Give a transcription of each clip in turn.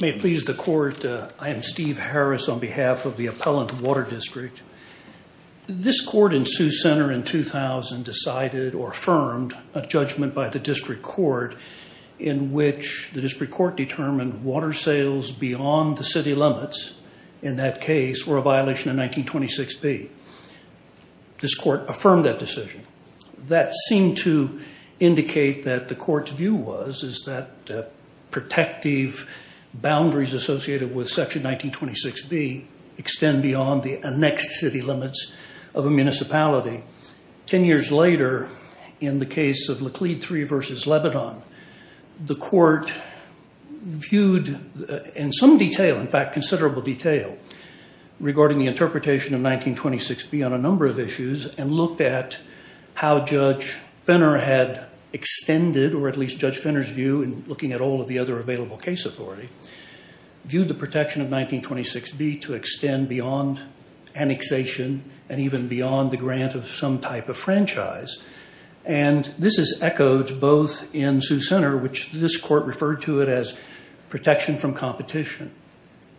May it please the Court, I am Steve Harris on behalf of the Appellant Water District. This Court in Sioux Center in 2000 decided or affirmed a judgment by the District Court in which the District Court determined water sales beyond the city limits in that case were a violation of 1926B. This Court affirmed that decision. That seemed to indicate that the Court's view was is that protective boundaries associated with section 1926B extend beyond the annexed city limits of a municipality. Ten years later in the case of Laclede 3 v. Lebanon, the Court viewed in some detail, in fact considerable detail, regarding the interpretation of 1926B on a number of issues and looked at how Judge Fenner had extended, or at least Judge Fenner's view in looking at all of the other available case authority, viewed the protection of 1926B to extend beyond annexation and even beyond the grant of some type of franchise. And this is echoed both in Sioux Center, which this Court referred to it as protection from competition.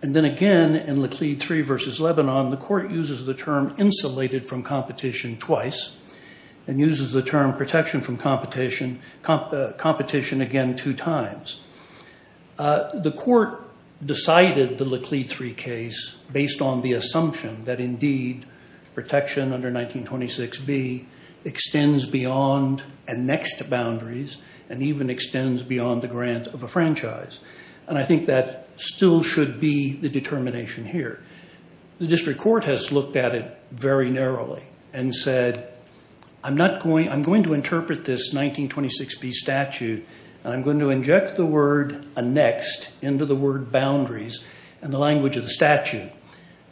And then again in Laclede 3 v. Lebanon, the Court uses the term insulated from competition twice and uses the term protection from competition again two times. The Court decided the Laclede 3 case based on the assumption that indeed protection under 1926B extends beyond annexed boundaries and even extends beyond the grant of a franchise. And I think that still should be the determination here. The District Court has looked at it very narrowly and said, I'm going to interpret this 1926B statute and I'm going to inject the word annexed into the word boundaries in the language of the statute.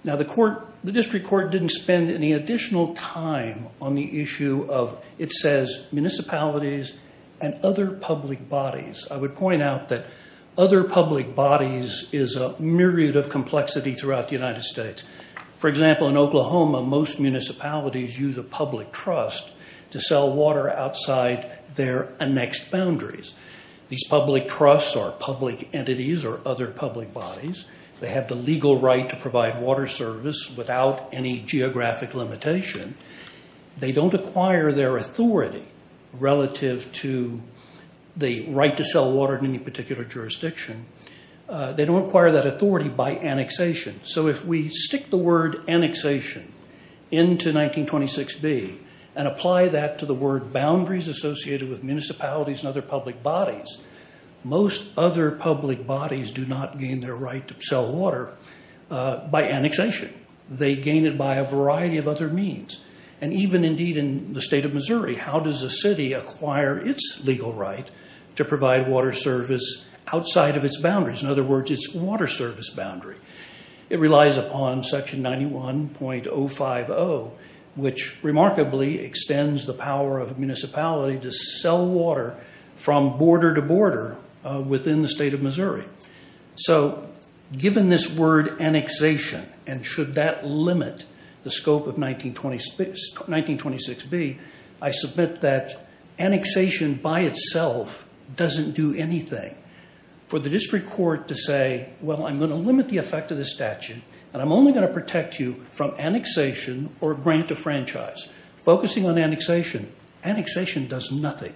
Now, the District Court didn't spend any additional time on the issue of, it says, municipalities and other public bodies. I would point out that other public bodies is a myriad of complexity throughout the United States. For example, in Oklahoma, most municipalities use a public trust to sell water outside their annexed boundaries. These public trusts or public entities or other public bodies, they have the legal right to provide water service without any geographic limitation. They don't acquire their authority relative to the right to sell water in any particular jurisdiction. They don't acquire that authority by annexation. So if we stick the word annexation into 1926B and apply that to the word boundaries associated with municipalities and other public bodies, most other public bodies do not gain their right to sell water by annexation. They gain it by a variety of other means. And even, indeed, in the state of Missouri, how does a city acquire its legal right to provide water service outside of its boundaries, in other words, its water service boundary? It relies upon Section 91.050, which remarkably extends the power of a municipality to sell water from border to border within the state of Missouri. So given this word annexation, and should that limit the scope of 1926B, I submit that annexation by itself doesn't do anything. For the district court to say, well, I'm going to limit the effect of this statute, and I'm only going to protect you from annexation or grant a franchise, focusing on annexation, annexation does nothing.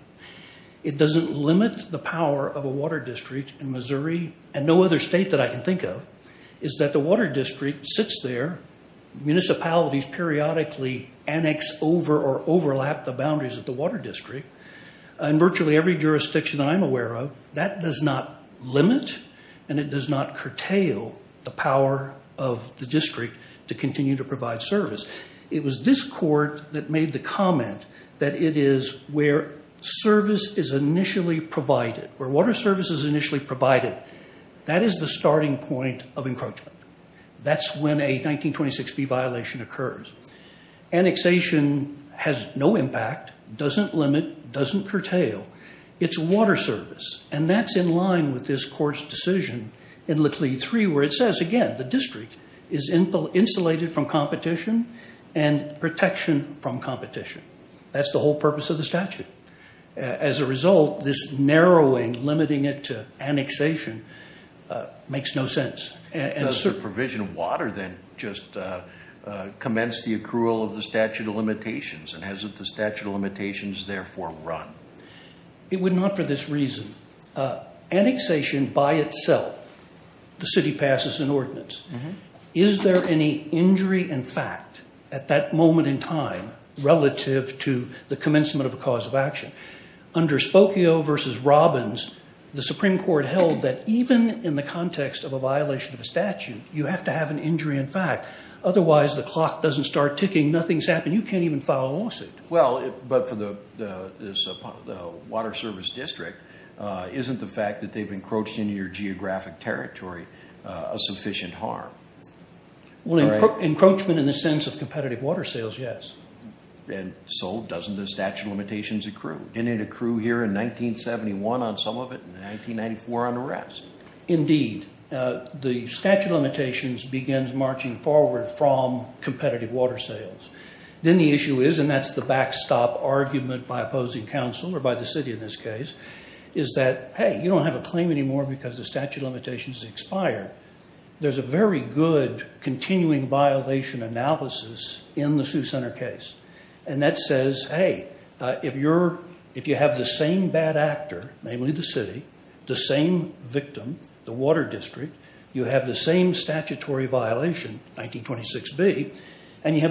It doesn't limit the power of a water district in Missouri, and no other state that I can think of, is that the water district sits there, municipalities periodically annex over or overlap the boundaries of the water district, and virtually every jurisdiction that I'm aware of, that does not limit and it does not curtail the power of the district to continue to provide service. It was this court that made the comment that it is where service is initially provided, where water service is initially provided, that is the starting point of encroachment. That's when a 1926B violation occurs. Annexation has no impact, doesn't limit, doesn't curtail. It's water service, and that's in line with this court's decision in Laclede 3, where it says, again, the district is insulated from competition and protection from competition. That's the whole purpose of the statute. As a result, this narrowing, limiting it to annexation, makes no sense. Because the provision of water then just commenced the accrual of the statute of limitations and hasn't the statute of limitations therefore run? It would not for this reason. Annexation by itself, the city passes an ordinance. Is there any injury in fact at that moment in time relative to the commencement of a cause of action? Under Spokio v. Robbins, the Supreme Court held that even in the context of a violation of a statute, you have to have an injury in fact, otherwise the clock doesn't start ticking, Well, but for the water service district, isn't the fact that they've encroached into your geographic territory a sufficient harm? Well, encroachment in the sense of competitive water sales, yes. And so doesn't the statute of limitations accrue? Didn't it accrue here in 1971 on some of it, in 1994 on the rest? Indeed. The statute of limitations begins marching forward from competitive water sales. Then the issue is, and that's the backstop argument by opposing counsel or by the city in this case, is that, hey, you don't have a claim anymore because the statute of limitations has expired. There's a very good continuing violation analysis in the Sioux Center case. And that says, hey, if you have the same bad actor, namely the city, the same victim, the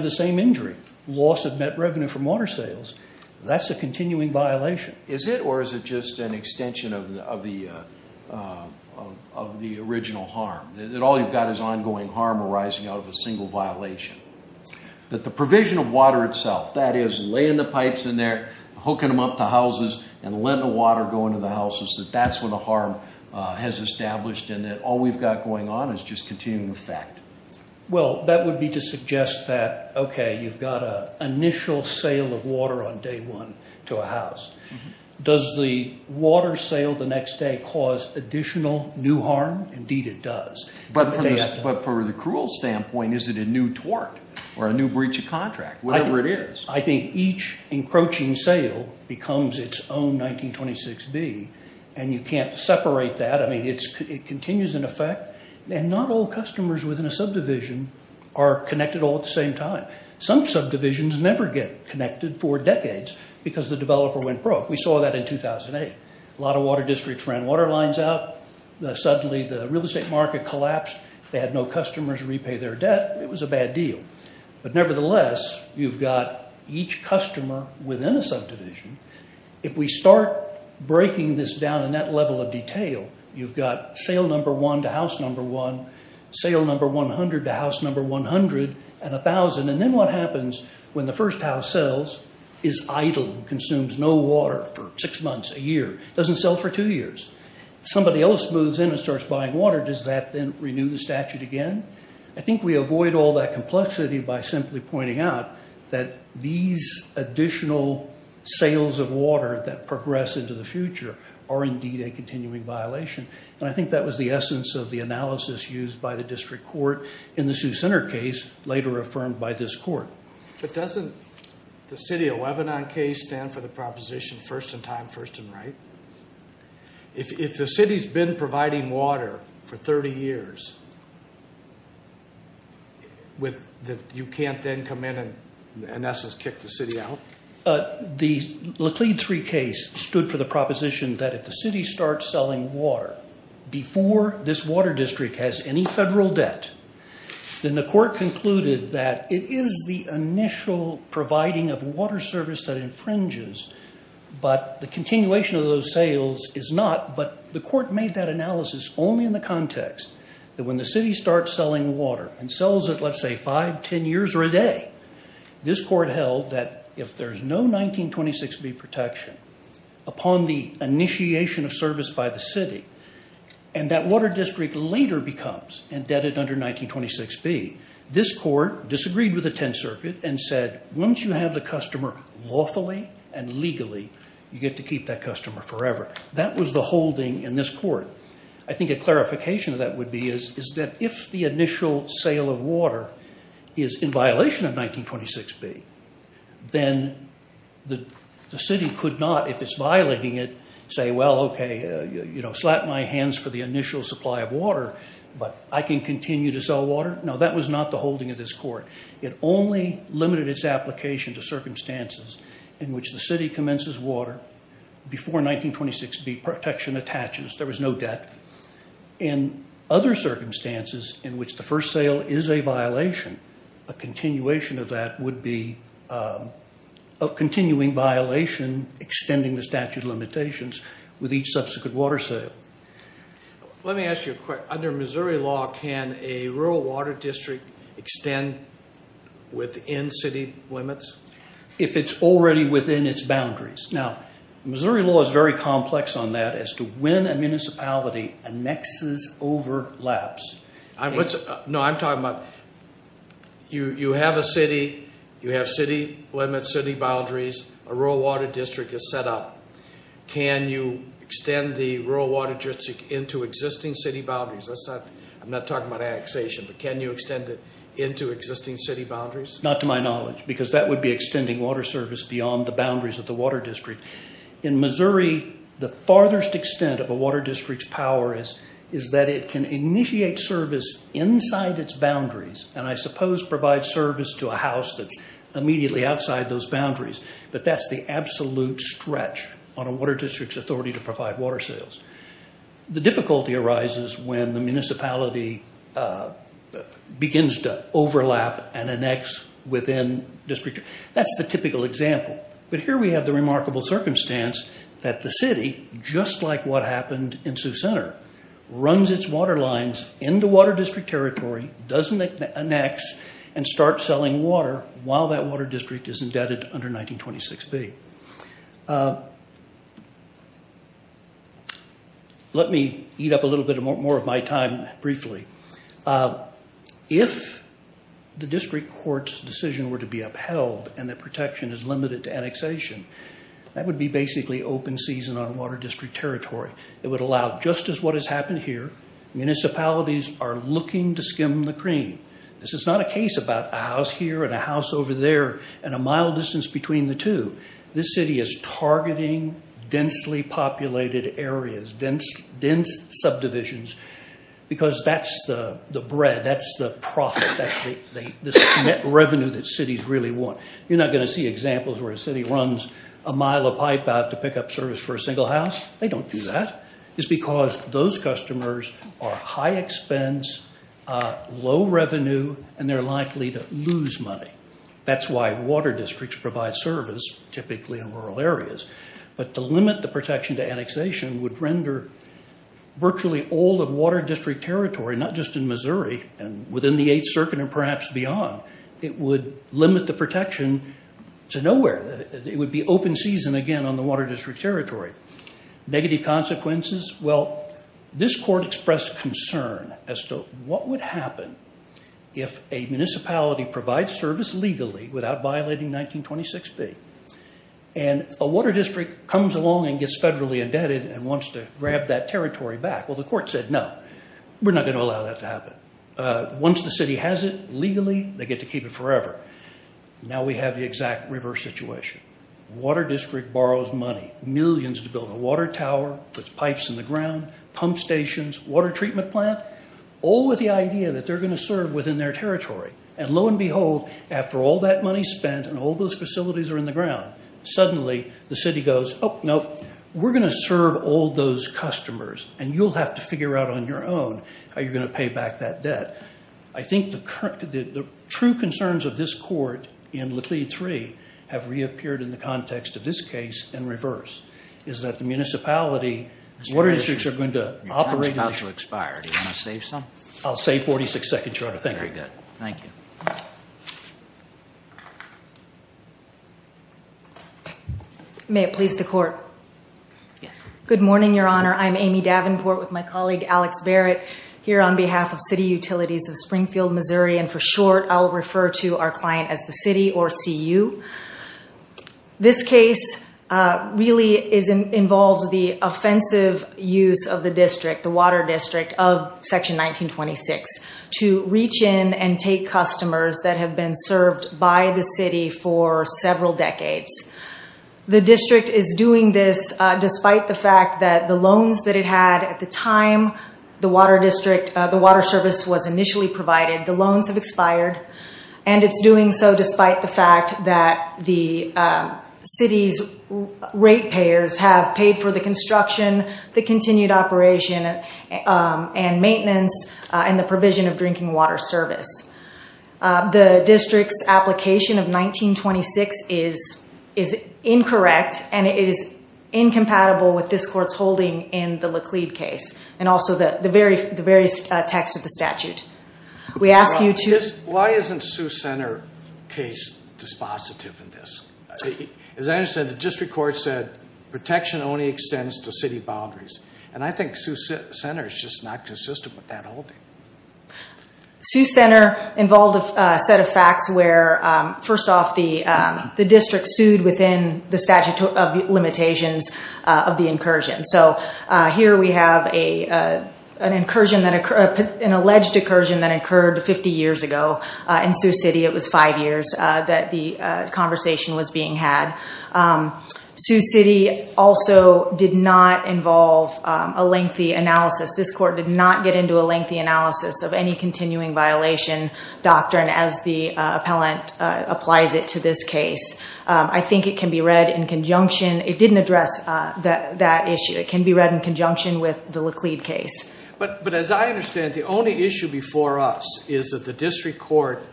same injury, loss of net revenue from water sales, that's a continuing violation. Is it, or is it just an extension of the original harm, that all you've got is ongoing harm arising out of a single violation? That the provision of water itself, that is, laying the pipes in there, hooking them up to houses, and letting the water go into the houses, that that's when the harm has established and that all we've got going on is just continuing effect. Well, that would be to suggest that, okay, you've got an initial sale of water on day one to a house. Does the water sale the next day cause additional new harm? Indeed, it does. But for the cruel standpoint, is it a new tort or a new breach of contract, whatever it is? I think each encroaching sale becomes its own 1926B, and you can't separate that. I mean, it continues in effect, and not all customers within a subdivision are connected all at the same time. Some subdivisions never get connected for decades because the developer went broke. We saw that in 2008. A lot of water districts ran water lines out, suddenly the real estate market collapsed, they had no customers repay their debt, it was a bad deal. But nevertheless, you've got each customer within a subdivision. If we start breaking this down in that level of detail, you've got sale number one to house number one, sale number 100 to house number 100, and 1,000, and then what happens when the first house sells is idle, consumes no water for six months, a year, doesn't sell for two years. If somebody else moves in and starts buying water, does that then renew the statute again? I think we avoid all that complexity by simply pointing out that these additional sales of water that progress into the future are indeed a continuing violation, and I think that was the essence of the analysis used by the district court in the Sioux Center case, later affirmed by this court. But doesn't the city of Lebanon case stand for the proposition, first in time, first in right? If the city's been providing water for 30 years, you can't then come in and in essence kick the city out? The Laclede III case stood for the proposition that if the city starts selling water before this water district has any federal debt, then the court concluded that it is the initial providing of water service that infringes, but the continuation of those sales is not, but the court made that analysis only in the context that when the city starts selling water and sells it, let's say, five, ten years or a day, this court held that if there's no 1926B protection upon the initiation of service by the city, and that water district later becomes indebted under 1926B, this court disagreed with the Tenth Circuit and said once you have the customer lawfully and legally, you get to keep that customer forever. That was the holding in this court. I think a clarification of that would be is that if the initial sale of water is in violation of 1926B, then the city could not, if it's violating it, say, well, okay, you know, slap my hands for the initial supply of water, but I can continue to sell water? No, that was not the holding of this court. It only limited its application to circumstances in which the city commences water before 1926B protection attaches. There was no debt. In other circumstances in which the first sale is a violation, a continuation of that would be a continuing violation extending the statute of limitations with each subsequent water sale. Let me ask you a question. Under Missouri law, can a rural water district extend within city limits? If it's already within its boundaries. Now, Missouri law is very complex on that as to when a municipality annexes over laps. No, I'm talking about you have a city, you have city limits, city boundaries, a rural water district is set up. Can you extend the rural water district into existing city boundaries? I'm not talking about annexation, but can you extend it into existing city boundaries? Not to my knowledge, because that would be extending water service beyond the boundaries of the water district. In Missouri, the farthest extent of a water district's power is that it can initiate service inside its boundaries, and I suppose provide service to a house that's immediately outside those boundaries. But that's the absolute stretch on a water district's authority to provide water sales. The difficulty arises when the municipality begins to overlap and annex within district. That's the typical example. But here we have the remarkable circumstance that the city, just like what happened in Sioux Center, runs its water lines into water district territory, doesn't annex, and starts selling water while that water district is indebted under 1926B. Let me eat up a little bit more of my time briefly. If the district court's decision were to be upheld and that protection is limited to annexation, that would be basically open season on water district territory. It would allow, just as what has happened here, municipalities are looking to skim the cream. This is not a case about a house here and a house over there and a mile distance between the two. This city is targeting densely populated areas, dense subdivisions, because that's the bread, that's the profit, that's the net revenue that cities really want. You're not going to see examples where a city runs a mile of pipe out to pick up service for a single house. They don't do that. It's because those customers are high expense, low revenue, and they're likely to lose money. That's why water districts provide service, typically in rural areas, but to limit the protection to annexation would render virtually all of water district territory, not just in Missouri and within the Eighth Circuit and perhaps beyond, it would limit the protection to nowhere. It would be open season again on the water district territory. Negative consequences, well, this court expressed concern as to what would happen if a municipality provides service legally without violating 1926B, and a water district comes along and gets federally indebted and wants to grab that territory back. Well, the court said, no, we're not going to allow that to happen. Once the city has it legally, they get to keep it forever. Now we have the exact reverse situation. Water district borrows money, millions to build a water tower, puts pipes in the ground, pump stations, water treatment plant, all with the idea that they're going to serve within their territory, and lo and behold, after all that money spent and all those facilities are in the ground, suddenly the city goes, oh, no, we're going to serve all those customers, and you'll have to figure out on your own how you're going to pay back that debt. I think the true concerns of this court in Laclede III have reappeared in the context of this case in reverse, is that the municipality, water districts are going to operate in the I'll say 46 seconds, Your Honor. Thank you. Very good. Thank you. May it please the court. Good morning, Your Honor. I'm Amy Davenport with my colleague, Alex Barrett, here on behalf of City Utilities of Springfield, Missouri, and for short, I'll refer to our client as the city or CU. This case really involves the offensive use of the district, the water district, of Section 1926 to reach in and take customers that have been served by the city for several decades. The district is doing this despite the fact that the loans that it had at the time the water district, the water service was initially provided, the loans have expired, and it's doing so despite the fact that the city's rate payers have paid for the construction, the continued operation, and maintenance, and the provision of drinking water service. The district's application of 1926 is incorrect, and it is incompatible with this court's holding in the Laclede case, and also the various texts of the statute. We ask you to- Why isn't Sioux Center case dispositive in this? As I understand it, the district court said protection only extends to city boundaries, and I think Sioux Center is just not consistent with that holding. Sioux Center involved a set of facts where, first off, the district sued within the statute of limitations of the incursion. So here we have an alleged incursion that occurred 50 years ago in Sioux City. It was five years that the conversation was being had. Sioux City also did not involve a lengthy analysis. This court did not get into a lengthy analysis of any continuing violation doctrine as the appellant applies it to this case. I think it can be read in conjunction. It didn't address that issue. It can be read in conjunction with the Laclede case. But as I understand it, the only issue before us is that the district court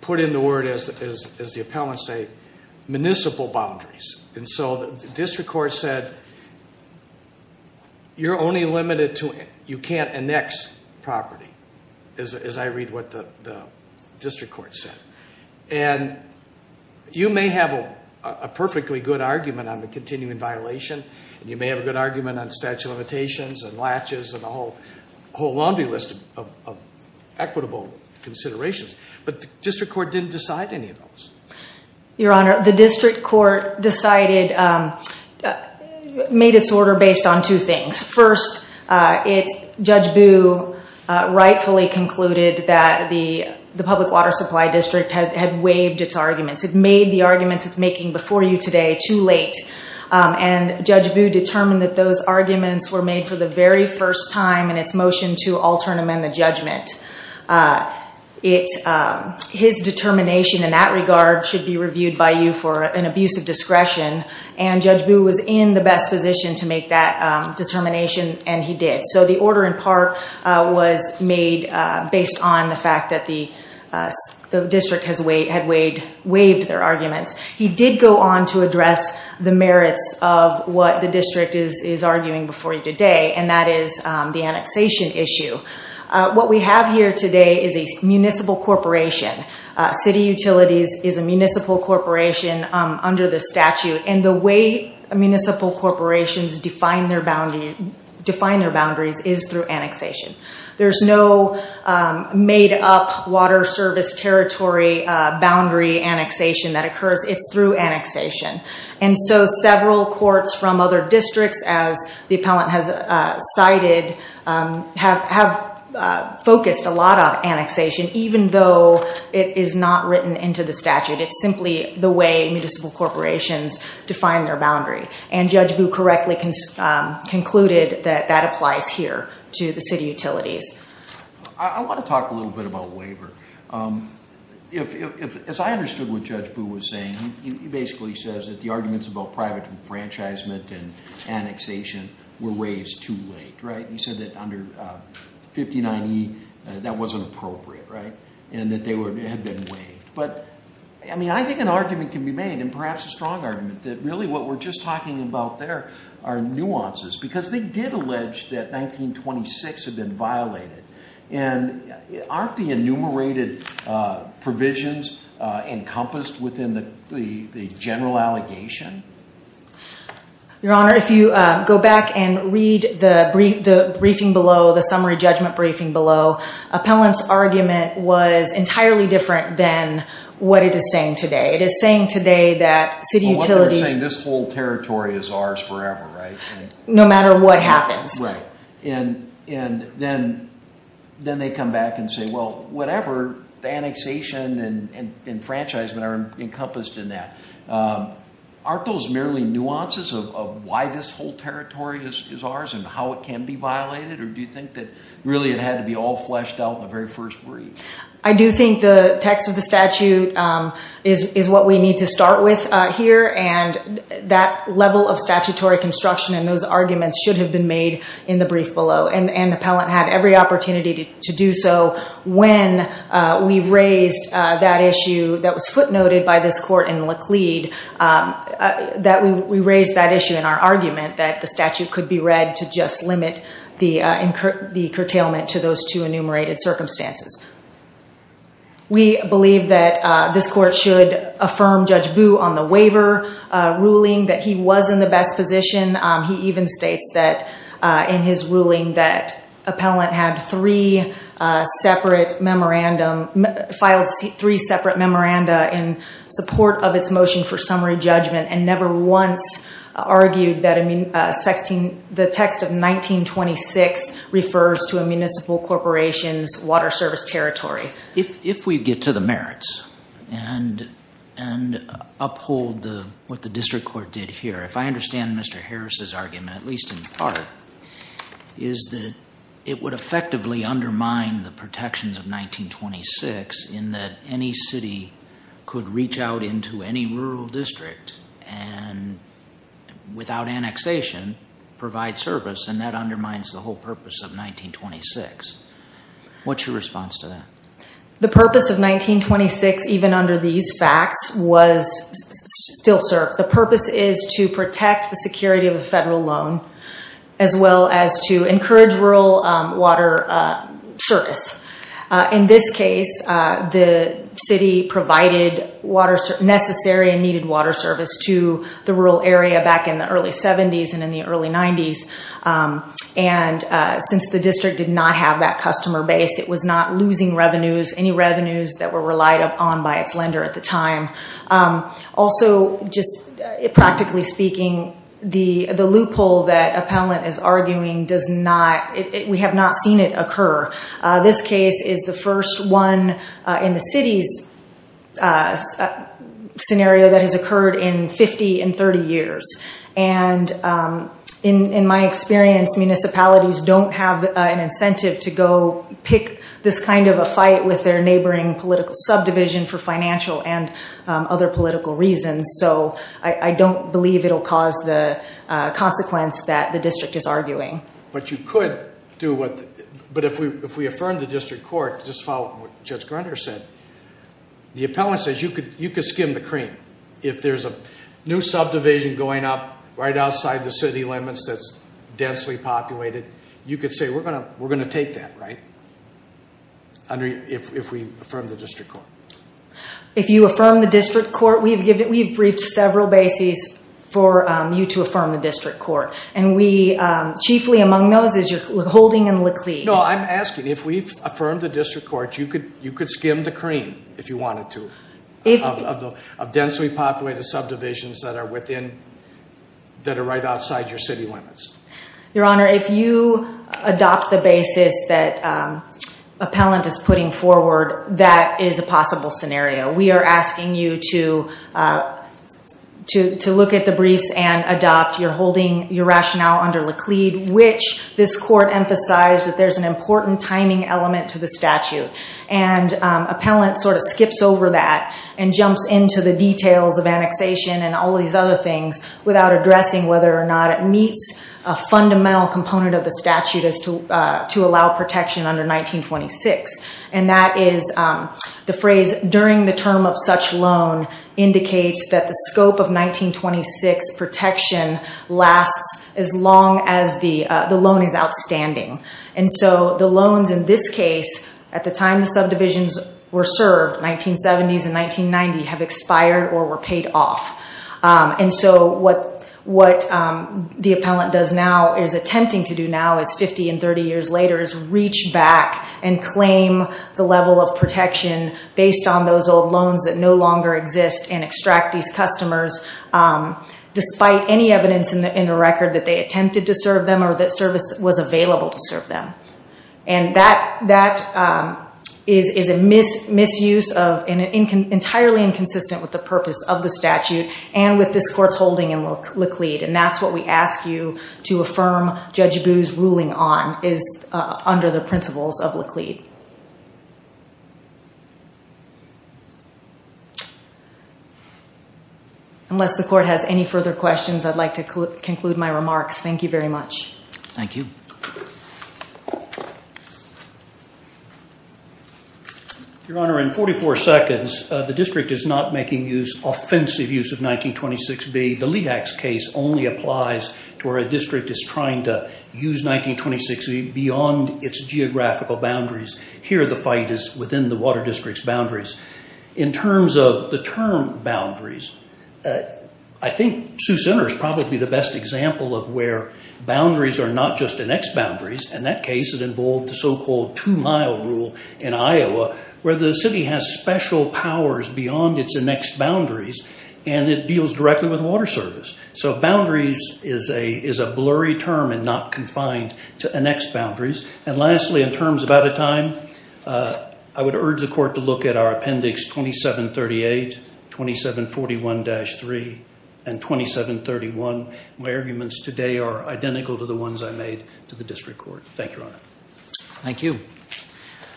put in the word, as the appellants say, municipal boundaries. And so the district court said, you're only limited to, you can't annex property, as I read what the district court said. And you may have a perfectly good argument on the continuing violation, and you may have an argument on statute of limitations, and latches, and a whole laundry list of equitable considerations. But the district court didn't decide any of those. Your Honor, the district court decided, made its order based on two things. First, Judge Booe rightfully concluded that the public water supply district had waived its arguments. It made the arguments it's making before you today too late. And Judge Booe determined that those arguments were made for the very first time in its motion to alter and amend the judgment. His determination in that regard should be reviewed by you for an abuse of discretion. And Judge Booe was in the best position to make that determination, and he did. So the order in part was made based on the fact that the district had waived their arguments. He did go on to address the merits of what the district is arguing before you today, and that is the annexation issue. What we have here today is a municipal corporation. City Utilities is a municipal corporation under the statute, and the way municipal corporations define their boundaries is through annexation. There's no made up water service territory boundary annexation that occurs. It's through annexation. And so several courts from other districts, as the appellant has cited, have focused a lot on annexation, even though it is not written into the statute. It's simply the way municipal corporations define their boundary. And Judge Booe correctly concluded that that applies here to the City Utilities. I want to talk a little bit about waiver. As I understood what Judge Booe was saying, he basically says that the arguments about private enfranchisement and annexation were raised too late. He said that under 59E, that wasn't appropriate, and that they had been waived. But I think an argument can be made, and perhaps a strong argument, that really what we're just talking about there are nuances. Because they did allege that 1926 had been violated, and aren't the enumerated provisions encompassed within the general allegation? Your Honor, if you go back and read the briefing below, the summary judgment briefing below, appellant's argument was entirely different than what it is saying today. It is saying today that City Utilities... Well, what they're saying, this whole territory is ours forever, right? No matter what happens. Right. And then they come back and say, well, whatever the annexation and enfranchisement are encompassed in that, aren't those merely nuances of why this whole territory is ours and how it can be violated? Or do you think that really it had to be all fleshed out in the very first brief? I do think the text of the statute is what we need to start with here. And that level of statutory construction and those arguments should have been made in the brief below. And the appellant had every opportunity to do so when we raised that issue that was footnoted by this court in Laclede, that we raised that issue in our argument, that the statute could be read to just limit the curtailment to those two enumerated circumstances. We believe that this court should affirm Judge Boo on the waiver ruling that he was in the best position. He even states that in his ruling that appellant had three separate memorandum, filed three separate memoranda in support of its motion for summary judgment and never once argued that the text of 1926 refers to a municipal corporation's water service territory. If we get to the merits and uphold what the district court did here, if I understand Mr. Harris's argument, at least in part, is that it would effectively undermine the protections of 1926 in that any city could reach out into any rural district and, without annexation, provide service and that undermines the whole purpose of 1926. What's your response to that? The purpose of 1926, even under these facts, was still CERC. The purpose is to protect the security of the federal loan as well as to encourage rural water service. In this case, the city provided necessary and needed water service to the rural area back in the early 70s and in the early 90s. Since the district did not have that customer base, it was not losing revenues, any revenues that were relied upon by its lender at the time. Also, just practically speaking, the loophole that Appellant is arguing, we have not seen it occur. This case is the first one in the city's scenario that has occurred in 50 and 30 years. In my experience, municipalities don't have an incentive to go pick this kind of a fight with their neighboring political subdivision for financial and other political reasons. I don't believe it'll cause the consequence that the district is arguing. You could do what... If we affirm the district court, just follow what Judge Grunder said, the Appellant says, you could skim the cream. If there's a new subdivision going up right outside the city limits that's densely populated, you could say, we're going to take that, right, if we affirm the district court? If you affirm the district court, we've briefed several bases for you to affirm the district court. We, chiefly among those is your holding in Laclede. No, I'm asking, if we've affirmed the district court, you could skim the cream, if you wanted to, of densely populated subdivisions that are right outside your city limits. Your Honor, if you adopt the basis that Appellant is putting forward, that is a possible scenario. We are asking you to look at the briefs and adopt your holding, your rationale under Laclede, which this court emphasized that there's an important timing element to the statute. Appellant sort of skips over that and jumps into the details of annexation and all these other things without addressing whether or not it meets a fundamental component of the statute as to allow protection under 1926. That is the phrase, during the term of such loan indicates that the scope of 1926 protection lasts as long as the loan is outstanding. The loans in this case, at the time the subdivisions were served, 1970s and 1990, have expired or were paid off. What the Appellant does now, is attempting to do now, is 50 and 30 years later, is reach back and claim the level of protection based on those old loans that no longer exist and extract these customers despite any evidence in the record that they attempted to serve them or that service was available to serve them. And that is a misuse of, entirely inconsistent with the purpose of the statute and with this court's holding in Laclede. And that's what we ask you to affirm Judge Booze ruling on, is under the principles of Laclede. Unless the court has any further questions, I'd like to conclude my remarks. Thank you very much. Thank you. Your Honor, in 44 seconds, the district is not making use, offensive use of 1926B. The Lehax case only applies to where a district is trying to use 1926B beyond its geographical boundaries. Here the fight is within the water district's boundaries. In terms of the term boundaries, I think Seuss-Enter is probably the best example of where boundaries, are not just annexed boundaries. In that case, it involved the so-called two-mile rule in Iowa where the city has special powers beyond its annexed boundaries and it deals directly with water service. So boundaries is a blurry term and not confined to annexed boundaries. And lastly, in terms of out of time, I would urge the court to look at our appendix 2738, 2741-3, and 2731. My arguments today are identical to the ones I made to the district court. Thank you, Your Honor. Thank you.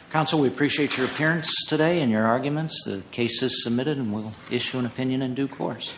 Counsel, we appreciate your appearance today and your arguments. The case is submitted and we'll issue an opinion in due course.